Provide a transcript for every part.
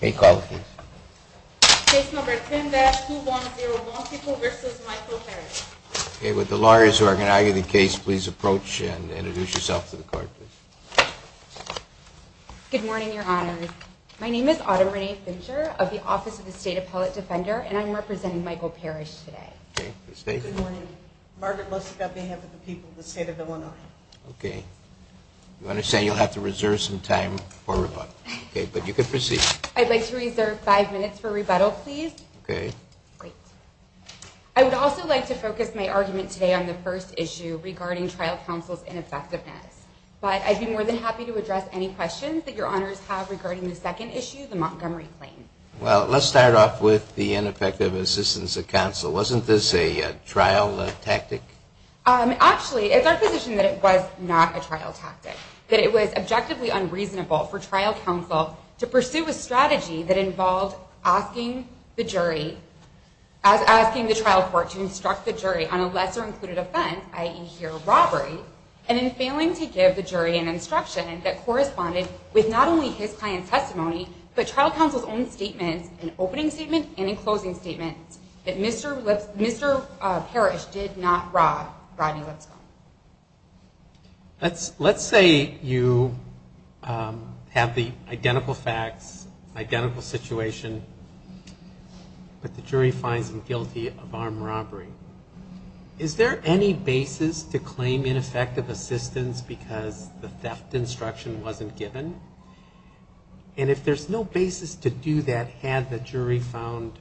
Case number 10-2101, People v. Michael Parish. Good morning, Your Honors. My name is Autumn Renee Fincher of the Office of the State Appellate Defender, and I'm representing Michael Parish today. Good morning. Margaret Lusick on behalf of the people of the state of Illinois. I'd like to reserve five minutes for rebuttal, please. I would also like to focus my argument today on the first issue regarding trial counsel's ineffectiveness. But I'd be more than happy to address any questions that Your Honors have regarding the second issue, the Montgomery claim. Well, let's start off with the ineffective assistance of counsel. Wasn't this a trial tactic? Actually, it's our position that it was not a trial tactic, that it was objectively unreasonable for trial counsel to pursue a strategy that involved asking the jury, asking the trial court to instruct the jury on a lesser-included offense, i.e., here, robbery, and in failing to give the jury an instruction that corresponded with not only his client's testimony, but trial counsel's own statements, an opening statement and a closing statement, that Mr. Parish did not rob Rodney Lipscomb. Let's say you have the identical facts, identical situation, but the jury finds him guilty of armed robbery. Is there any basis to claim ineffective assistance because the theft instruction wasn't given? And if there's no basis to do that had the jury found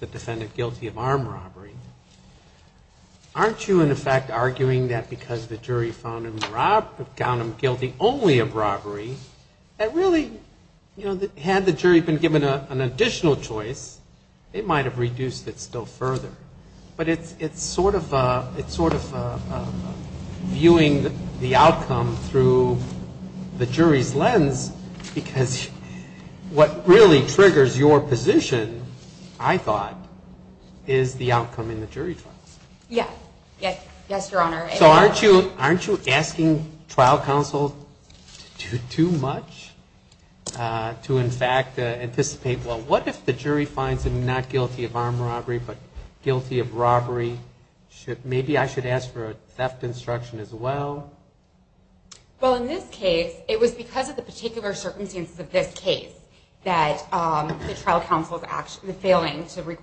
the defendant guilty of armed robbery, aren't you, in effect, arguing that because the jury found him robbed, found him guilty only of robbery, that really, you know, had the jury been given an additional choice, they might have reduced it still further. But it's sort of viewing the outcome through the jury's lens, because what really triggers your position, I thought, is the outcome in the jury trial. So aren't you asking trial counsel to do too much to, in fact, anticipate, well, what if the jury finds him not guilty of armed robbery, but guilty of robbery? Maybe I should ask for a theft instruction as well. Well, in this case, it was because of the particular circumstances of this case that the trial counsel's failing to be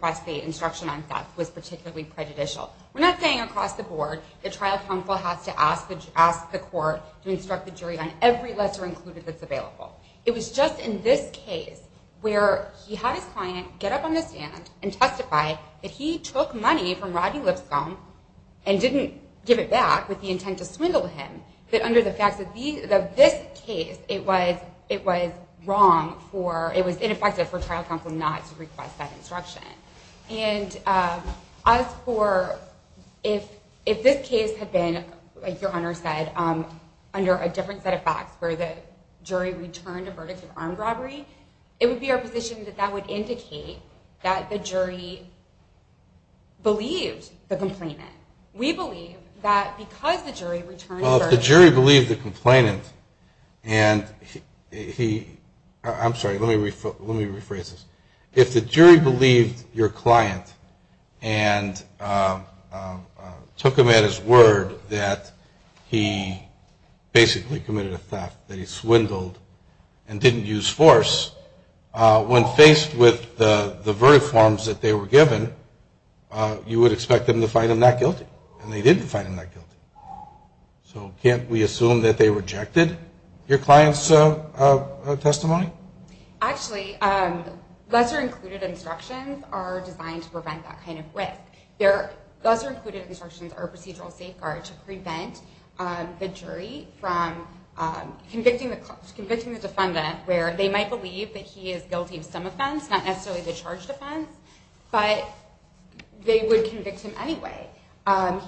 prejudicial. We're not saying across the board that trial counsel has to ask the court to instruct the jury on every lesser included that's available. It was just in this case where he had his client get up on the stand and testify that he took money from Rodney Lipscomb and didn't give it back with the intent to swindle him, that under the facts of this case, it was wrong for, it was ineffective for trial counsel not to request that instruction. And as for if this case had been, like your Honor said, under a different set of facts where the jury returned a verdict of armed robbery, it would be our position that that would indicate that the jury believed the complainant. We believe that because the jury returned the verdict. Well, if the jury believed the complainant and he, I'm sorry, let me rephrase this. If the jury believed your client and took him at his word that he basically committed a theft, that he swindled and didn't use force, when faced with the verdict forms that they were given, you would expect them to find him not guilty. And they did find him not guilty. So can't we assume that they rejected your client's testimony? Actually, lesser included instructions are designed to prevent that kind of risk. Lesser included instructions are a procedural safeguard to prevent the jury from convicting the defendant where they might believe that he is guilty of some offense, not necessarily the charged offense, but they would convict him anyway.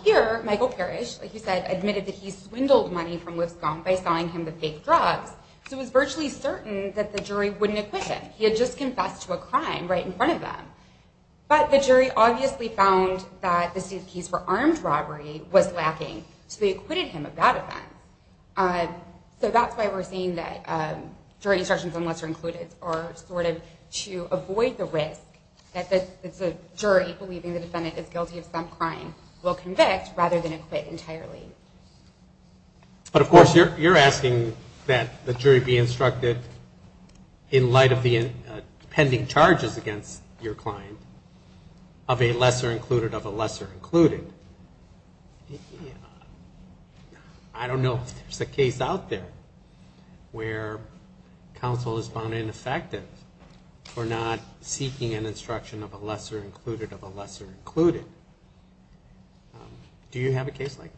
Here, Michael Parrish, like you said, admitted that he swindled money from Lipscomb by selling him the fake drugs. So he was virtually certain that the jury wouldn't acquit him. He had just confessed to a crime right in front of them. But the jury obviously found that the suit case for armed robbery was lacking, so they acquitted him of that offense. So that's why we're saying that jury instructions, unless they're included, are sort of to avoid the risk that the jury believing the defendant is guilty of some crime will convict rather than acquit entirely. But of course, you're asking that the jury be instructed in light of the pending charges against your client of a lesser included of a lesser included. I don't know if there's a case out there where counsel is found ineffective for not seeking an instruction of a lesser included of a lesser included. Do you have a case like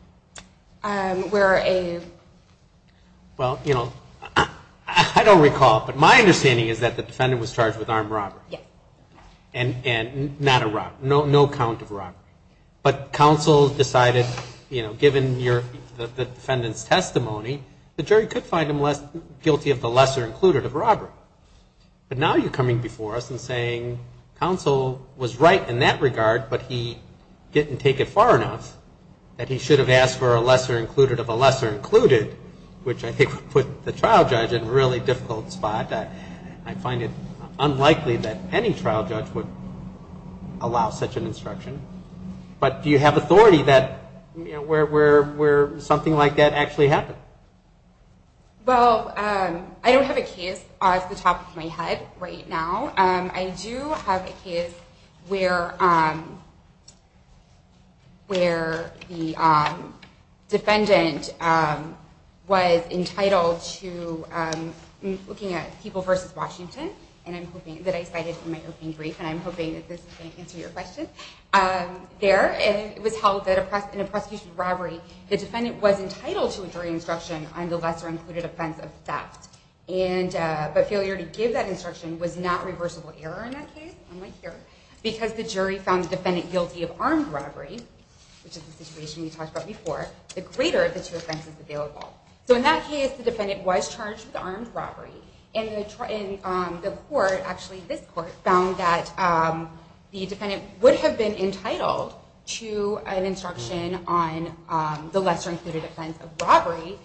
that? Well, you know, I don't recall, but my understanding is that the defendant was charged with armed robbery. And not a robbery, no count of robbery. But counsel decided, you know, given the defendant's testimony, the jury could find him guilty of the lesser included of robbery. But now you're coming before us and saying counsel was right in that regard, but he didn't take it far enough that he should have asked for a lesser included of a lesser included, which I think would put the trial judge in a really difficult spot. I find it unlikely that any trial judge would allow such an instruction. But do you have authority that, you know, where something like that actually happened? Well, I don't have a case off the top of my head right now. I do have a case where the defendant was entitled to looking at people versus Washington. And I'm hoping that I cited in my opening brief, and I'm hoping that this is going to answer your question. There, it was held that in a prosecution of robbery, the defendant was entitled to a jury instruction on the lesser included offense of theft. But failure to give that instruction was not reversible error in that case, unlike here. Because the jury found the defendant guilty of armed robbery, which is the situation we talked about before, the greater the two offenses available. So in that case, the defendant was charged with armed robbery. And the court, actually this court, found that the defendant would have been entitled to an instruction on the lesser included offense of robbery.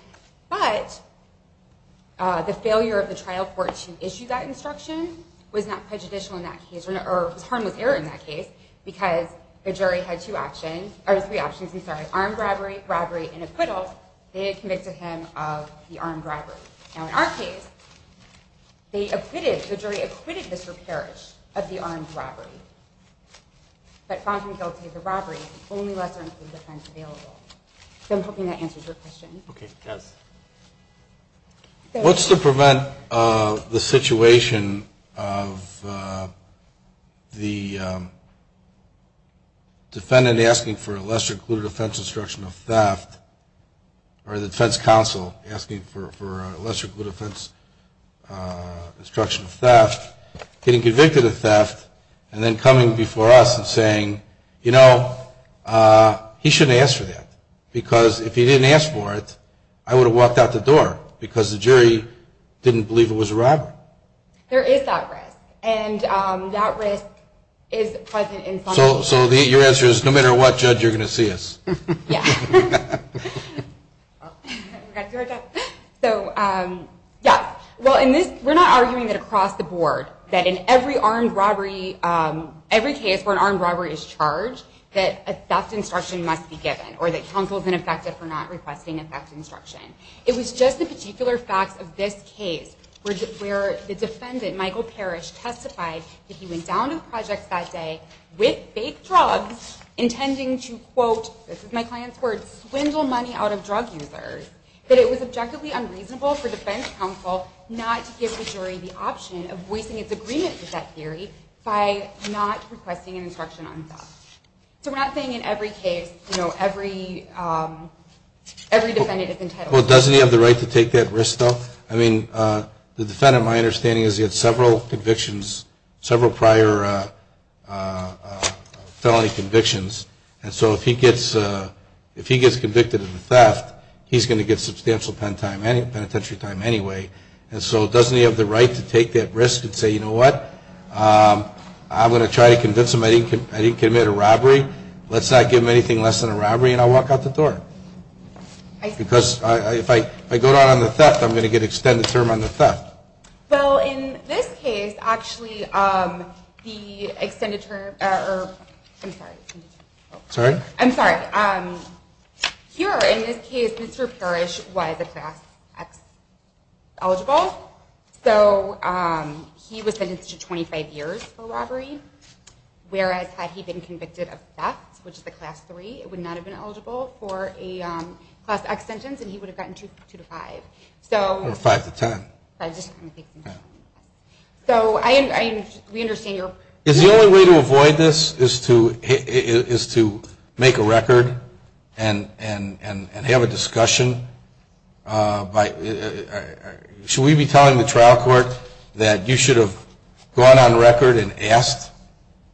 But the failure of the trial court to issue that instruction was not prejudicial in that case, or was harmless error in that case. Because the jury had two options, or three options, I'm sorry, armed robbery, robbery and acquittal. They had convicted him of the armed robbery. Now in our case, they acquitted, the jury acquitted Mr. Parrish of the armed robbery. But found him guilty of the robbery, only lesser included offense available. So I'm hoping that answers your question. What's to prevent the situation of the defendant asking for a lesser included offense instruction of theft, or the defense counsel asking for a lesser included offense instruction of theft, getting convicted of theft, and then coming before us and saying, you know, he shouldn't ask for that. Because if he didn't ask for it, I would have walked out the door, because the jury didn't believe it was a robbery. There is that risk. And that risk is present in some cases. So your answer is, no matter what, judge, you're going to see us. Yeah. Well, we're not arguing that across the board, that in every case where an armed robbery is charged, that a theft instruction must be given, or that counsel is ineffective for not requesting a theft instruction. It was just the particular facts of this case where the defendant, Michael Parrish, testified that he went down to the projects that day with fake drugs, intending to, quote, this is my client's word, swindle money out of drug users, that it was objectively unreasonable for defense counsel not to give the jury the option of voicing its agreement with that theory by not requesting an instruction on theft. So we're not saying in every case, you know, every defendant is entitled to that. Well, doesn't he have the right to take that risk, though? I mean, the defendant, my understanding is he had several convictions, several prior felony convictions. And so if he gets convicted of a theft, he's going to get substantial penitentiary time anyway. And so doesn't he have the right to take that risk and say, you know what, I'm going to try to convince him that I didn't commit a robbery, let's not give him anything less than a robbery, and I'll walk out the door? Because if I go down on the theft, I'm going to get extended term on the theft. Well, in this case, actually, the extended term, or I'm sorry. Sorry? I'm sorry. Here, in this case, Mr. Parrish was a class X eligible, so he was sentenced to 25 years for robbery. Whereas had he been convicted of theft, which is the class three, it would not have been eligible for a class X sentence, and he would have gotten two to five. So we understand your point. Is the only way to avoid this is to make a record and have a discussion? Should we be telling the trial court that you should have gone on record and asked?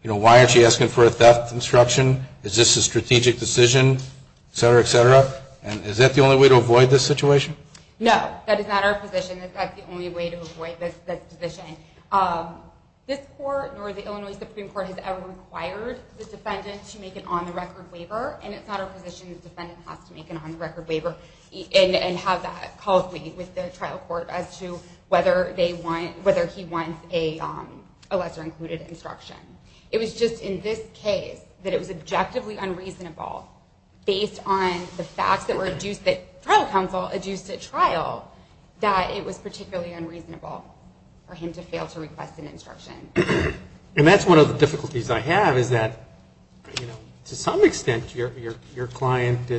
You know, why aren't you asking for a theft instruction? Is this a strategic decision, et cetera, et cetera? And is that the only way to avoid this situation? No, that is not our position. That's the only way to avoid this decision. This court, nor the Illinois Supreme Court, has ever required the defendant to make an on-the-record waiver, and it's not our position that the defendant has to make an on-the-record waiver and have that called with the trial court as to whether he wants a lesser-included instruction. It was just in this case that it was objectively unreasonable, based on the facts that were adduced at trial, that it was particularly unreasonable for him to fail to request an instruction. And that's one of the difficulties I have, is that to some extent your client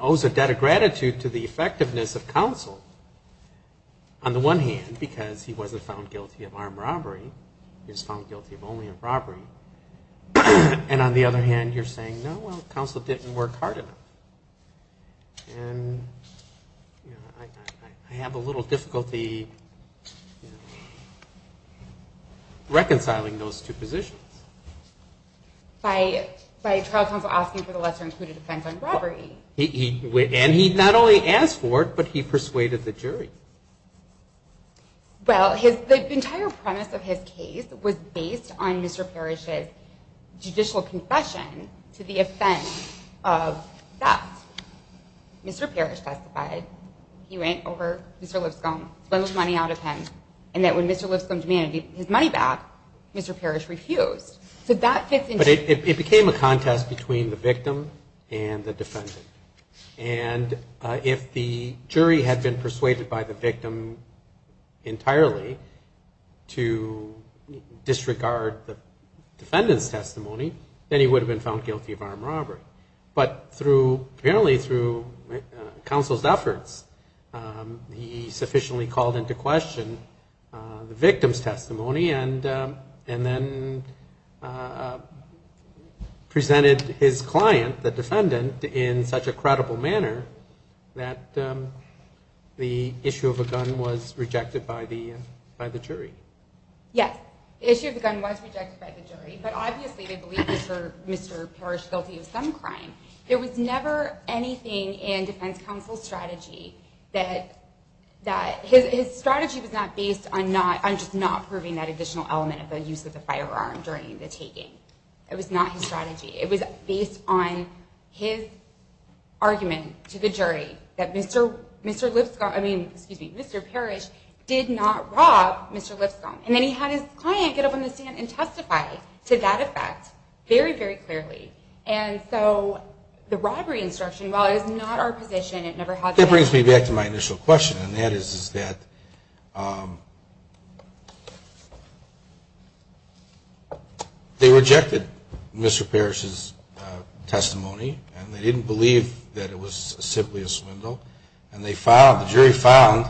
owes a debt of gratitude to the effectiveness of counsel. On the one hand, because he wasn't found guilty of armed robbery, he was found guilty of only a robbery. And on the other hand, you're saying, no, counsel didn't work hard enough. I have a little difficulty reconciling those two positions. By trial counsel asking for the lesser-included offense on robbery. And he not only asked for it, but he persuaded the jury. Well, the entire premise of his case was based on Mr. Parrish's judicial confession to the offense of theft. Mr. Parrish testified he went over Mr. Lipscomb, spent the money out of him, and that when Mr. Lipscomb demanded his money back, Mr. Parrish refused. But it became a contest between the victim and the defendant. And if the jury had been persuaded by the victim entirely to disregard the defendant's testimony, then he would have been found guilty of armed robbery. But apparently through counsel's efforts, he sufficiently called into question the victim's testimony, and then presented his client, the defendant, in such a credible manner that the issue of a gun was rejected by the jury. Yes, the issue of the gun was rejected by the jury, but obviously they believe Mr. Parrish is guilty of some crime. There was never anything in defense counsel's strategy that his strategy was not based on just not proving that additional element of the use of the firearm during the taking. It was not his strategy. It was based on his argument to the jury that Mr. Lipscomb, I mean, excuse me, Mr. Parrish, did not rob Mr. Lipscomb. And then he had his client get up on the stand and testify to that effect very, very clearly. And so the robbery instruction, while it is not our position, it never has been. That brings me back to my initial question, and that is that they rejected Mr. Parrish's testimony, and they didn't believe that it was simply a swindle, and the jury found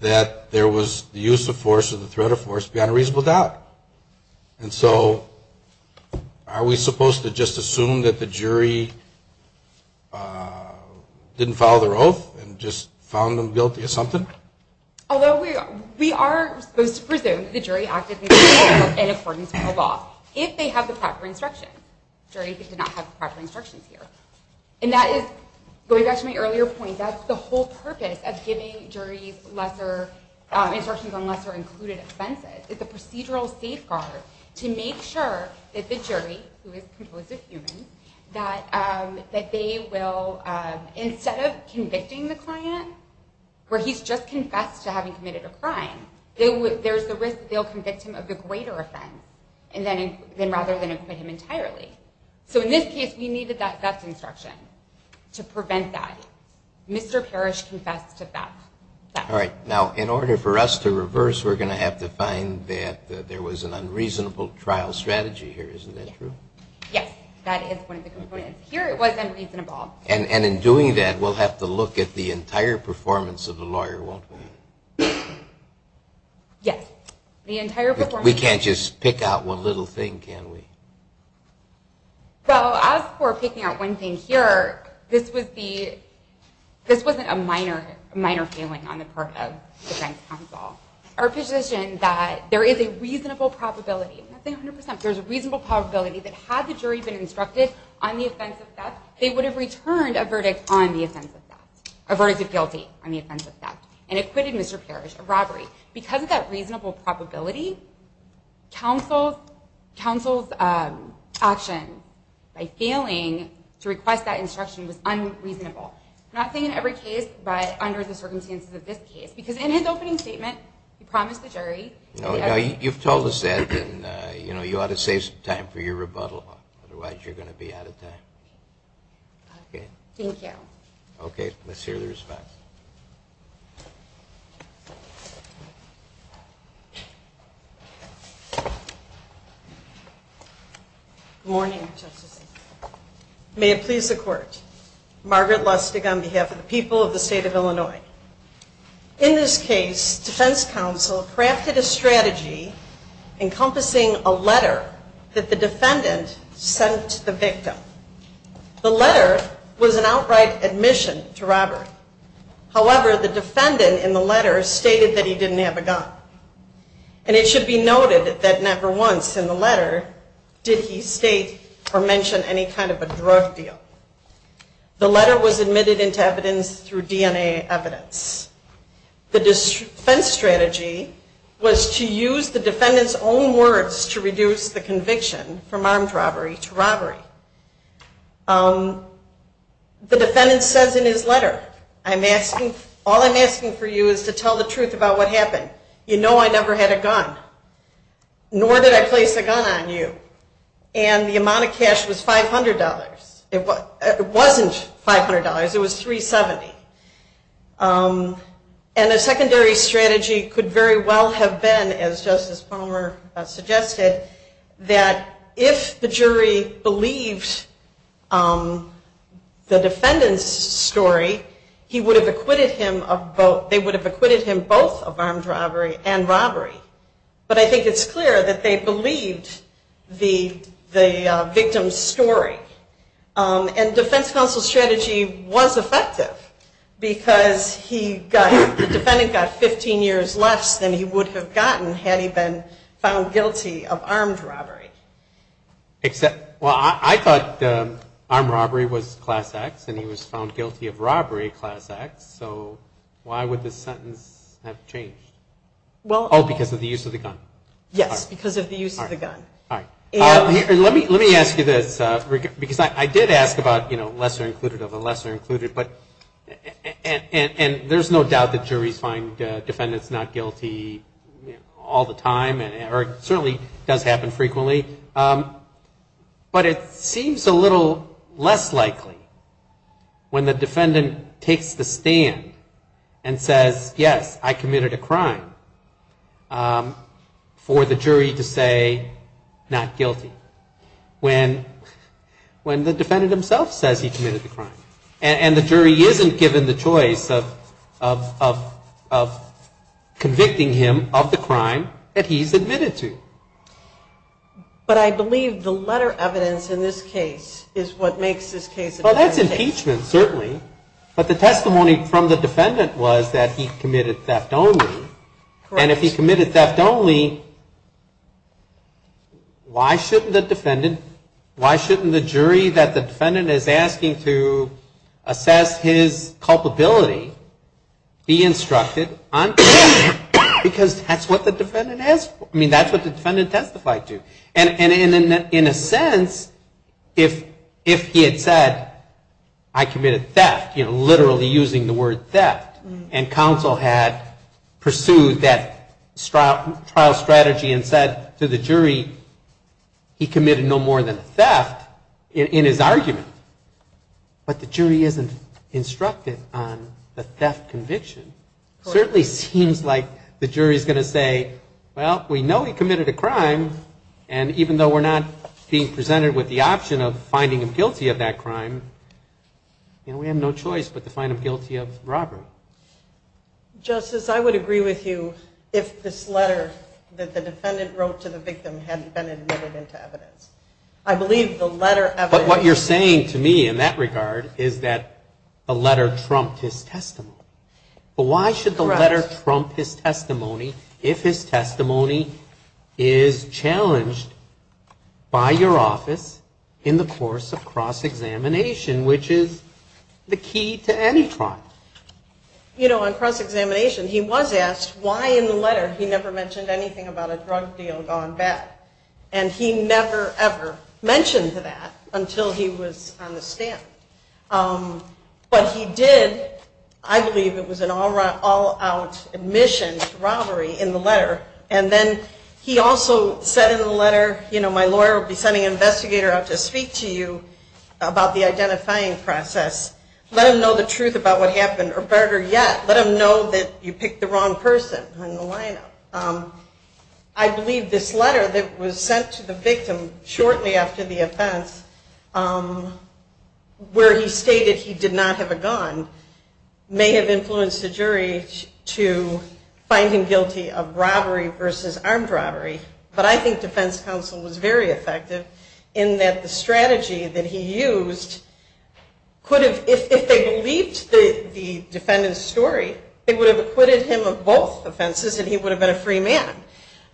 that there was the use of force or the threat of force beyond a reasonable doubt. And so are we supposed to just assume that the jury didn't follow their oath and just found them guilty of something? Although we are supposed to presume that the jury acted in accordance with the law, if they have the proper instruction. The jury did not have the proper instructions here. And that is, going back to my earlier point, that's the whole purpose of giving juries instructions on lesser included offenses. It's a procedural safeguard to make sure that the jury, who is composed of humans, that they will, instead of convicting the client where he's just confessed to having committed a crime, there's the risk that they'll convict him of the greater offense, rather than acquit him entirely. So in this case, we needed that best instruction to prevent that. Mr. Parrish confessed to theft. All right. Now, in order for us to reverse, we're going to have to find that there was an unreasonable trial strategy here. Isn't that true? Yes. That is one of the components. Here it was unreasonable. And in doing that, we'll have to look at the entire performance of the lawyer, won't we? Yes. The entire performance. We can't just pick out one little thing, can we? Well, as for picking out one thing here, this wasn't a minor failing on the part of defense counsel. Our position that there is a reasonable probability, nothing 100%, there's a reasonable probability that had the jury been instructed on the offense of theft, they would have returned a verdict on the offense of theft, a verdict of guilty on the offense of theft, and acquitted Mr. Parrish of robbery. Because of that reasonable probability, counsel's action by failing to request that instruction was unreasonable. Nothing in every case, but under the circumstances of this case. Because in his opening statement, he promised the jury... You've told us that, and you ought to save some time for your rebuttal, otherwise you're going to be out of time. Thank you. Okay, let's hear the response. Good morning, Justice Engler. May it please the Court. Margaret Lustig on behalf of the people of the state of Illinois. In this case, defense counsel crafted a strategy encompassing a letter that the defendant sent the victim. The letter was an outright admission to robbery. However, the defendant in the letter stated that he didn't have a gun. And it should be noted that never once in the letter did he state or mention any kind of a drug deal. The letter was admitted into evidence through DNA evidence. The defense strategy was to use the defendant's own words to reduce the conviction from armed robbery to robbery. The defendant says in his letter, I'm asking... All I'm asking for you is to tell the truth about what happened. You know I never had a gun. Nor did I place a gun on you. And the amount of cash was $500. It wasn't $500. It was $370. And a secondary strategy could very well have been, as Justice Palmer suggested, that if the jury believed the defendant's story, he would have acquitted him of both... They would have acquitted him both of armed robbery and robbery. But I think it's clear that they believed the victim's story. And defense counsel's strategy was effective because the defendant got 15 years less than he would have gotten had he been found guilty of armed robbery. I thought armed robbery was class X and he was found guilty of robbery class X. So why would this sentence have changed? Oh, because of the use of the gun. Yes, because of the use of the gun. Let me ask you this. Because I did ask about lesser included of the lesser included. And there's no doubt that juries find defendants not guilty all the time. Or it certainly does happen frequently. But it seems a little less likely when the defendant takes the stand and says, yes, I committed a crime for the jury to say not guilty. When the defendant himself says he committed the crime and the jury isn't given the choice of convicting him of the crime that he's admitted to. But I believe the letter evidence in this case is what makes this case a better case. Well, that's impeachment, certainly. But the testimony from the defendant was that he committed theft only. And if he committed theft only, why shouldn't the defendant, why shouldn't the jury that the defendant is asking to assess his conviction be instructed on theft? Because that's what the defendant has, I mean, that's what the defendant testified to. And in a sense, if he had said I committed theft, literally using the word theft, and counsel had pursued that trial strategy and said to the jury, he committed no more than theft in his argument. But the jury isn't instructed on the theft conviction. Certainly seems like the jury is going to say, well, we know he committed a crime, and even though we're not being presented with the option of finding him guilty of that crime, we have no choice but to find him guilty of robbery. Justice, I would agree with you if this letter that the defendant wrote to the victim hadn't been admitted into evidence. I believe the letter evidence... But what you're saying to me in that regard is that the letter trumped his testimony. But why should the letter trump his testimony if his testimony is challenged by your office in the course of cross-examination, which is the key to any trial? You know, on cross-examination, he was asked why in the letter he never mentioned anything about a drug deal gone bad. And he never, ever mentioned that until he was on the stand. But he did. I believe it was an all-out admission to robbery in the letter. And then he also said in the letter, you know, my lawyer will be sending an investigator out to speak to you about the identifying process. Let him know the truth about what happened or better yet, let him know that you picked the wrong person in the lineup. I believe this letter that was sent to the victim shortly after the offense where he stated he did not have a gun may have influenced the jury to find him guilty of robbery versus armed robbery. But I think defense counsel was very effective in that the strategy that he used could have, if they believed the defendant's story, they would have acquitted him of both offenses and he would have been a free man.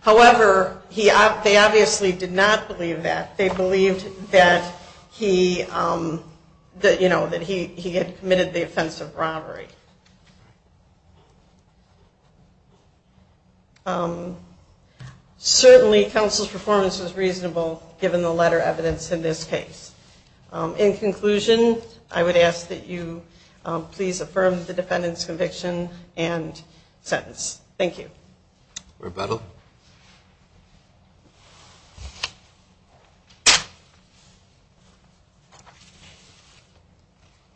However, they obviously did not believe that. They believed that he had committed the offense of robbery. Certainly counsel's performance was reasonable given the letter evidence in this case. In conclusion, I would ask that you please affirm the defendant's conviction and sentence. Thank you.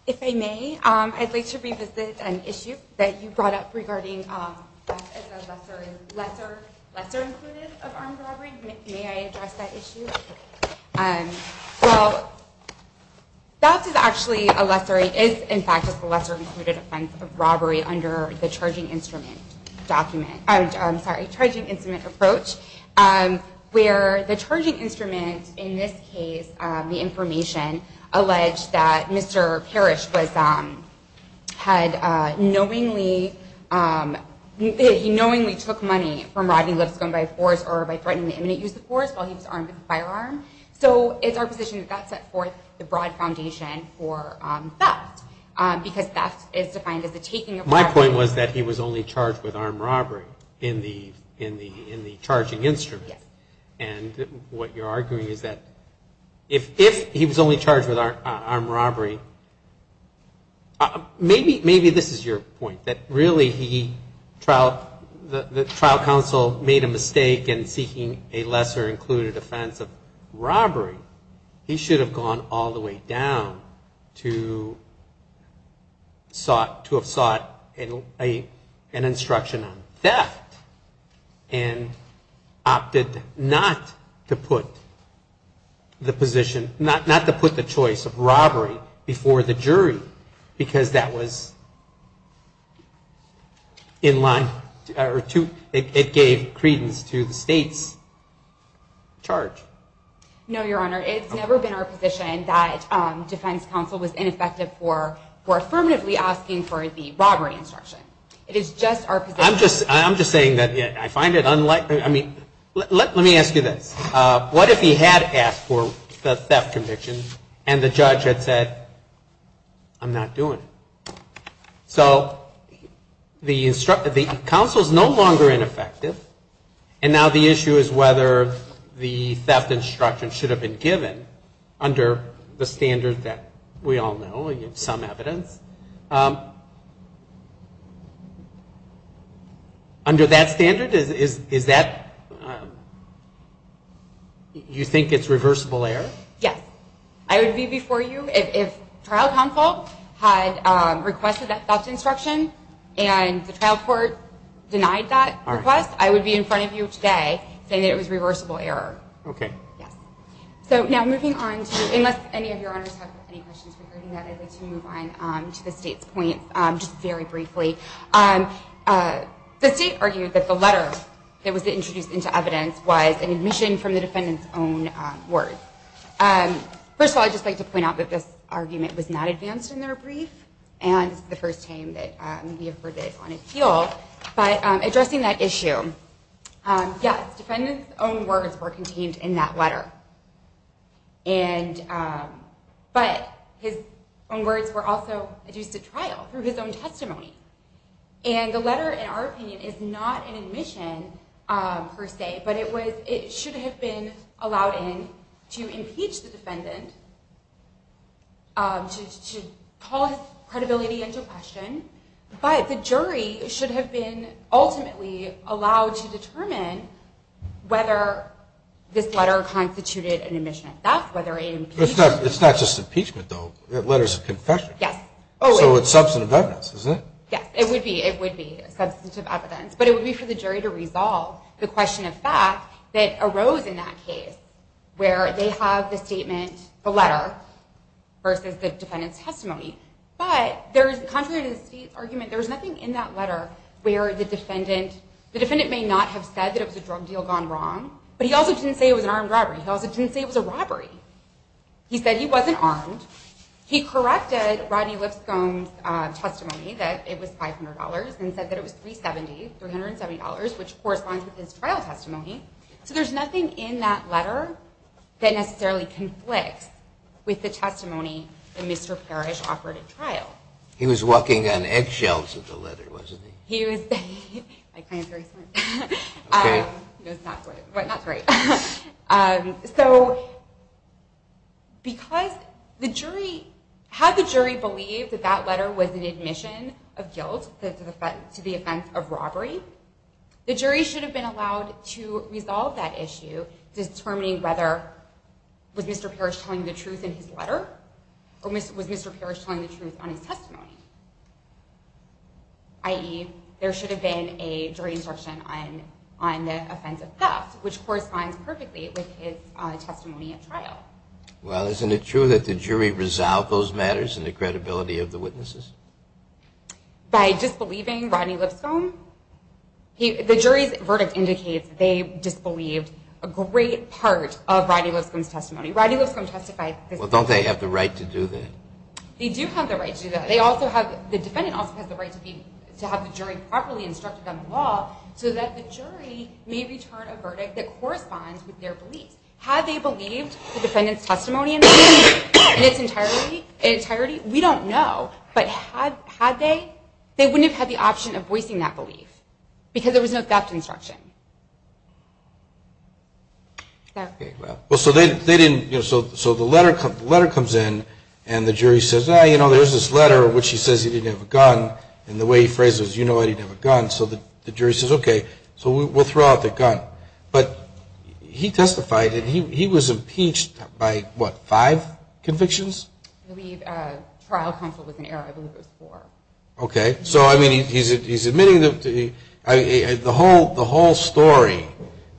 If I may, I'd like to revisit an issue that you brought up regarding lesser included of armed robbery. May I address that issue? In fact, it's a lesser included offense of robbery under the charging instrument document. I'm sorry, charging instrument approach where the charging instrument in this case, the information, alleged that Mr. Parrish had knowingly took money from Rodney Lipscomb by force or by threatening to use the force while he was armed with a firearm. So it's our position that that set forth the broad foundation for theft because theft is defined as the taking of... My point was that he was only charged with armed robbery in the charging instrument. And what you're arguing is that if he was only charged with armed robbery, maybe this is your point, that really the trial counsel made a mistake in seeking a lesser included offense of robbery. He should have gone all the way down to have sought an instruction on theft and opted not to put the position, not to put the choice of robbery before the jury because that was in line or it gave credence to the state's charge. No, Your Honor. It's never been our position that defense counsel was ineffective for affirmatively asking for the robbery instruction. It is just our position. I'm just saying that I find it unlikely. I mean, let me ask you this. What if he had asked for the theft conviction and the judge had said, I'm not doing it. So the counsel is no longer ineffective and now the issue is whether the trial counsel had requested that theft instruction and the trial court denied that request. I would be in front of you today saying it was reversible error. Okay. So now moving on to, unless any of your honors have any questions regarding that, I'd like to move on to the state's point just very briefly. The state argued that the letter that was introduced into evidence was an admission from the defendant's own words. First of all, I'd just like to point out that this argument was not advanced in their brief and this is the first time that we have heard this on appeal. But addressing that issue, yes, defendants own words were contained in that letter. But his own words were also used at trial through his own testimony. And the letter, in our opinion, is not an admission per se, but it should have been allowed in to impeach the defendant, to have been ultimately allowed to determine whether this letter constituted an admission of theft, whether it impeached him. It's not just impeachment, though. It's letters of confession. So it's substantive evidence, isn't it? Yes, it would be. Substantive evidence. But it would be for the jury to resolve the question of fact that arose in that case where they have the statement, the letter, versus the defendant's testimony. But contrary to the state's argument, there's nothing in that letter where the defendant, the defendant may not have said that it was a drug deal gone wrong, but he also didn't say it was an armed robbery. He also didn't say it was a robbery. He said he wasn't armed. He corrected Rodney Lipscomb's testimony that it was $500 and said that it was $370, $370, which corresponds with his trial testimony. So there's nothing in that letter that necessarily conflicts with the testimony that Mr. Parrish offered at trial. He was walking on eggshells of the letter, wasn't he? Okay. So because the jury, had the jury believed that that letter was an admission of guilt to the offense of robbery, the jury should have been allowed to resolve that issue determining whether, was Mr. Parrish telling the truth in his letter, or was Mr. Parrish telling the truth on his testimony? I.e., there should have been a jury instruction on the offense of theft, which corresponds perfectly with his testimony at trial. Well, isn't it true that the jury resolved those matters in the credibility of the witnesses? By disbelieving Rodney Lipscomb? The jury's verdict indicates they disbelieved a great part of Rodney Lipscomb's testimony. Rodney Lipscomb testified. Well, don't they have the right to do that? They do have the right to do that. The defendant also has the right to have the jury properly instructed on the law so that the jury may return a verdict that corresponds with their beliefs. Had they believed the defendant's testimony in its entirety? We don't know. But had they, they wouldn't have had the option of voicing that belief because there was no theft instruction. So the letter comes in, and the jury says, there's this letter in which he says he didn't have a gun, and the way he phrases it is, you know I didn't have a gun, so the jury says, okay, we'll throw out the gun. But he testified, and he was impeached by what, five convictions? I believe trial counsel was in error, I believe it was four. Okay, so I mean he's admitting the whole story,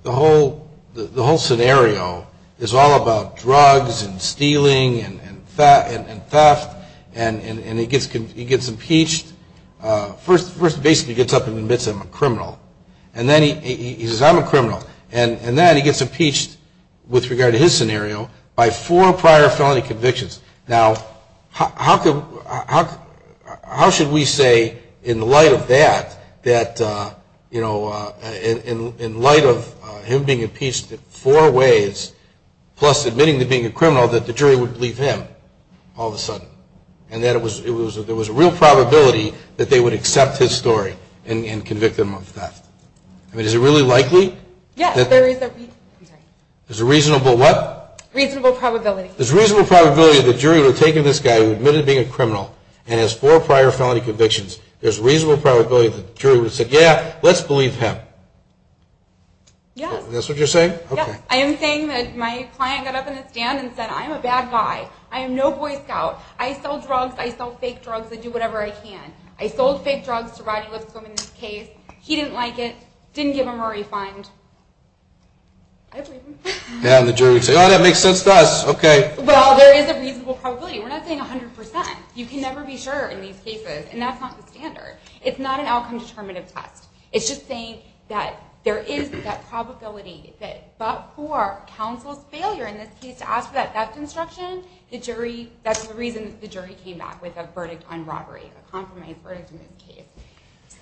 the whole scenario is all about drugs and stealing and theft, and he gets impeached. First he basically gets up and admits he's a criminal, and then he says, I'm a criminal. And then he gets impeached with regard to his scenario by four prior felony convictions. Now, how should we say in light of that, that in light of him being impeached four ways, plus admitting to being a criminal, that the jury would leave him all of a sudden. And that there was a real probability that they would accept his story and convict him of theft. I mean, is it really likely? There's a reasonable what? There's a reasonable probability that the jury would have taken this guy who admitted to being a criminal, and has four prior felony convictions, there's a reasonable probability that the jury would have said, yeah, let's believe him. Yes. That's what you're saying? Yes. I am saying that my client got up in a stand and said, I'm a bad guy, I am no Boy Scout, I sell drugs, I sell fake drugs, I do whatever I can. I sold fake drugs to Rodney Lipscomb in this case, he didn't like it, didn't give him a refund. And the jury would say, oh, that makes sense to us, okay. Well, there is a reasonable probability, we're not saying 100%. You can never be sure in these cases, and that's not the standard. It's not an outcome-determinative test. It's just saying that there is that probability that but for counsel's failure in this case to ask for that theft instruction, that's the reason the jury came back with a verdict on robbery, a compromise verdict in this case.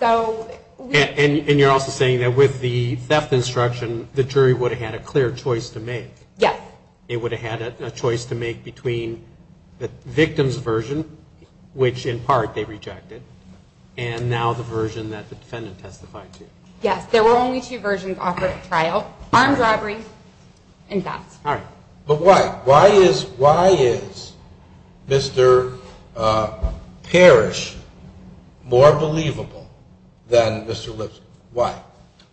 And you're also saying that with the theft instruction, the jury would have had a clear choice to make. Yes. It would have had a choice to make between the victim's version, which in part they rejected, and now the version that the defendant testified to. Yes, there were only two versions offered at trial, armed robbery and theft. But why? Why is Mr. Parrish more believable than Mr. Lipscomb? Why?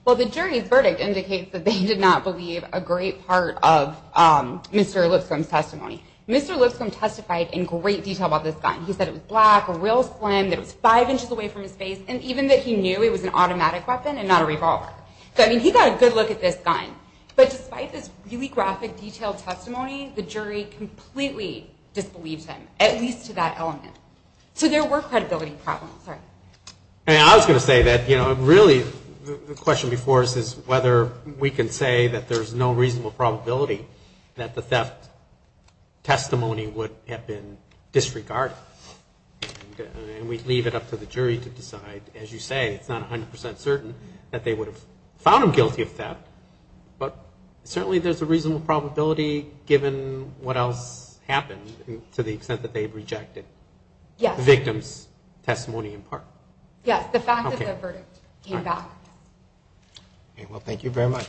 Well, the jury's verdict indicates that they did not believe a great part of Mr. Lipscomb's testimony. Mr. Lipscomb testified in great detail about this gun. He said it was black, a real slim, that it was five inches away from his face, and even that he knew it was an automatic weapon and not a revolver. I mean, he got a good look at this gun. But despite this really graphic, detailed testimony, the jury completely disbelieved him, at least to that element. So there were credibility problems. And I was going to say that, you know, really the question before us is whether we can say that there's no reasonable probability that the theft testimony would have been disregarded. And we leave it up to the jury to decide. As you say, it's not 100 percent certain that they would have found him guilty of theft. But certainly there's a reasonable probability, given what else happened, to the extent that they've rejected the victim's testimony in part. Yes, the fact that the verdict came back. Well, thank you very much.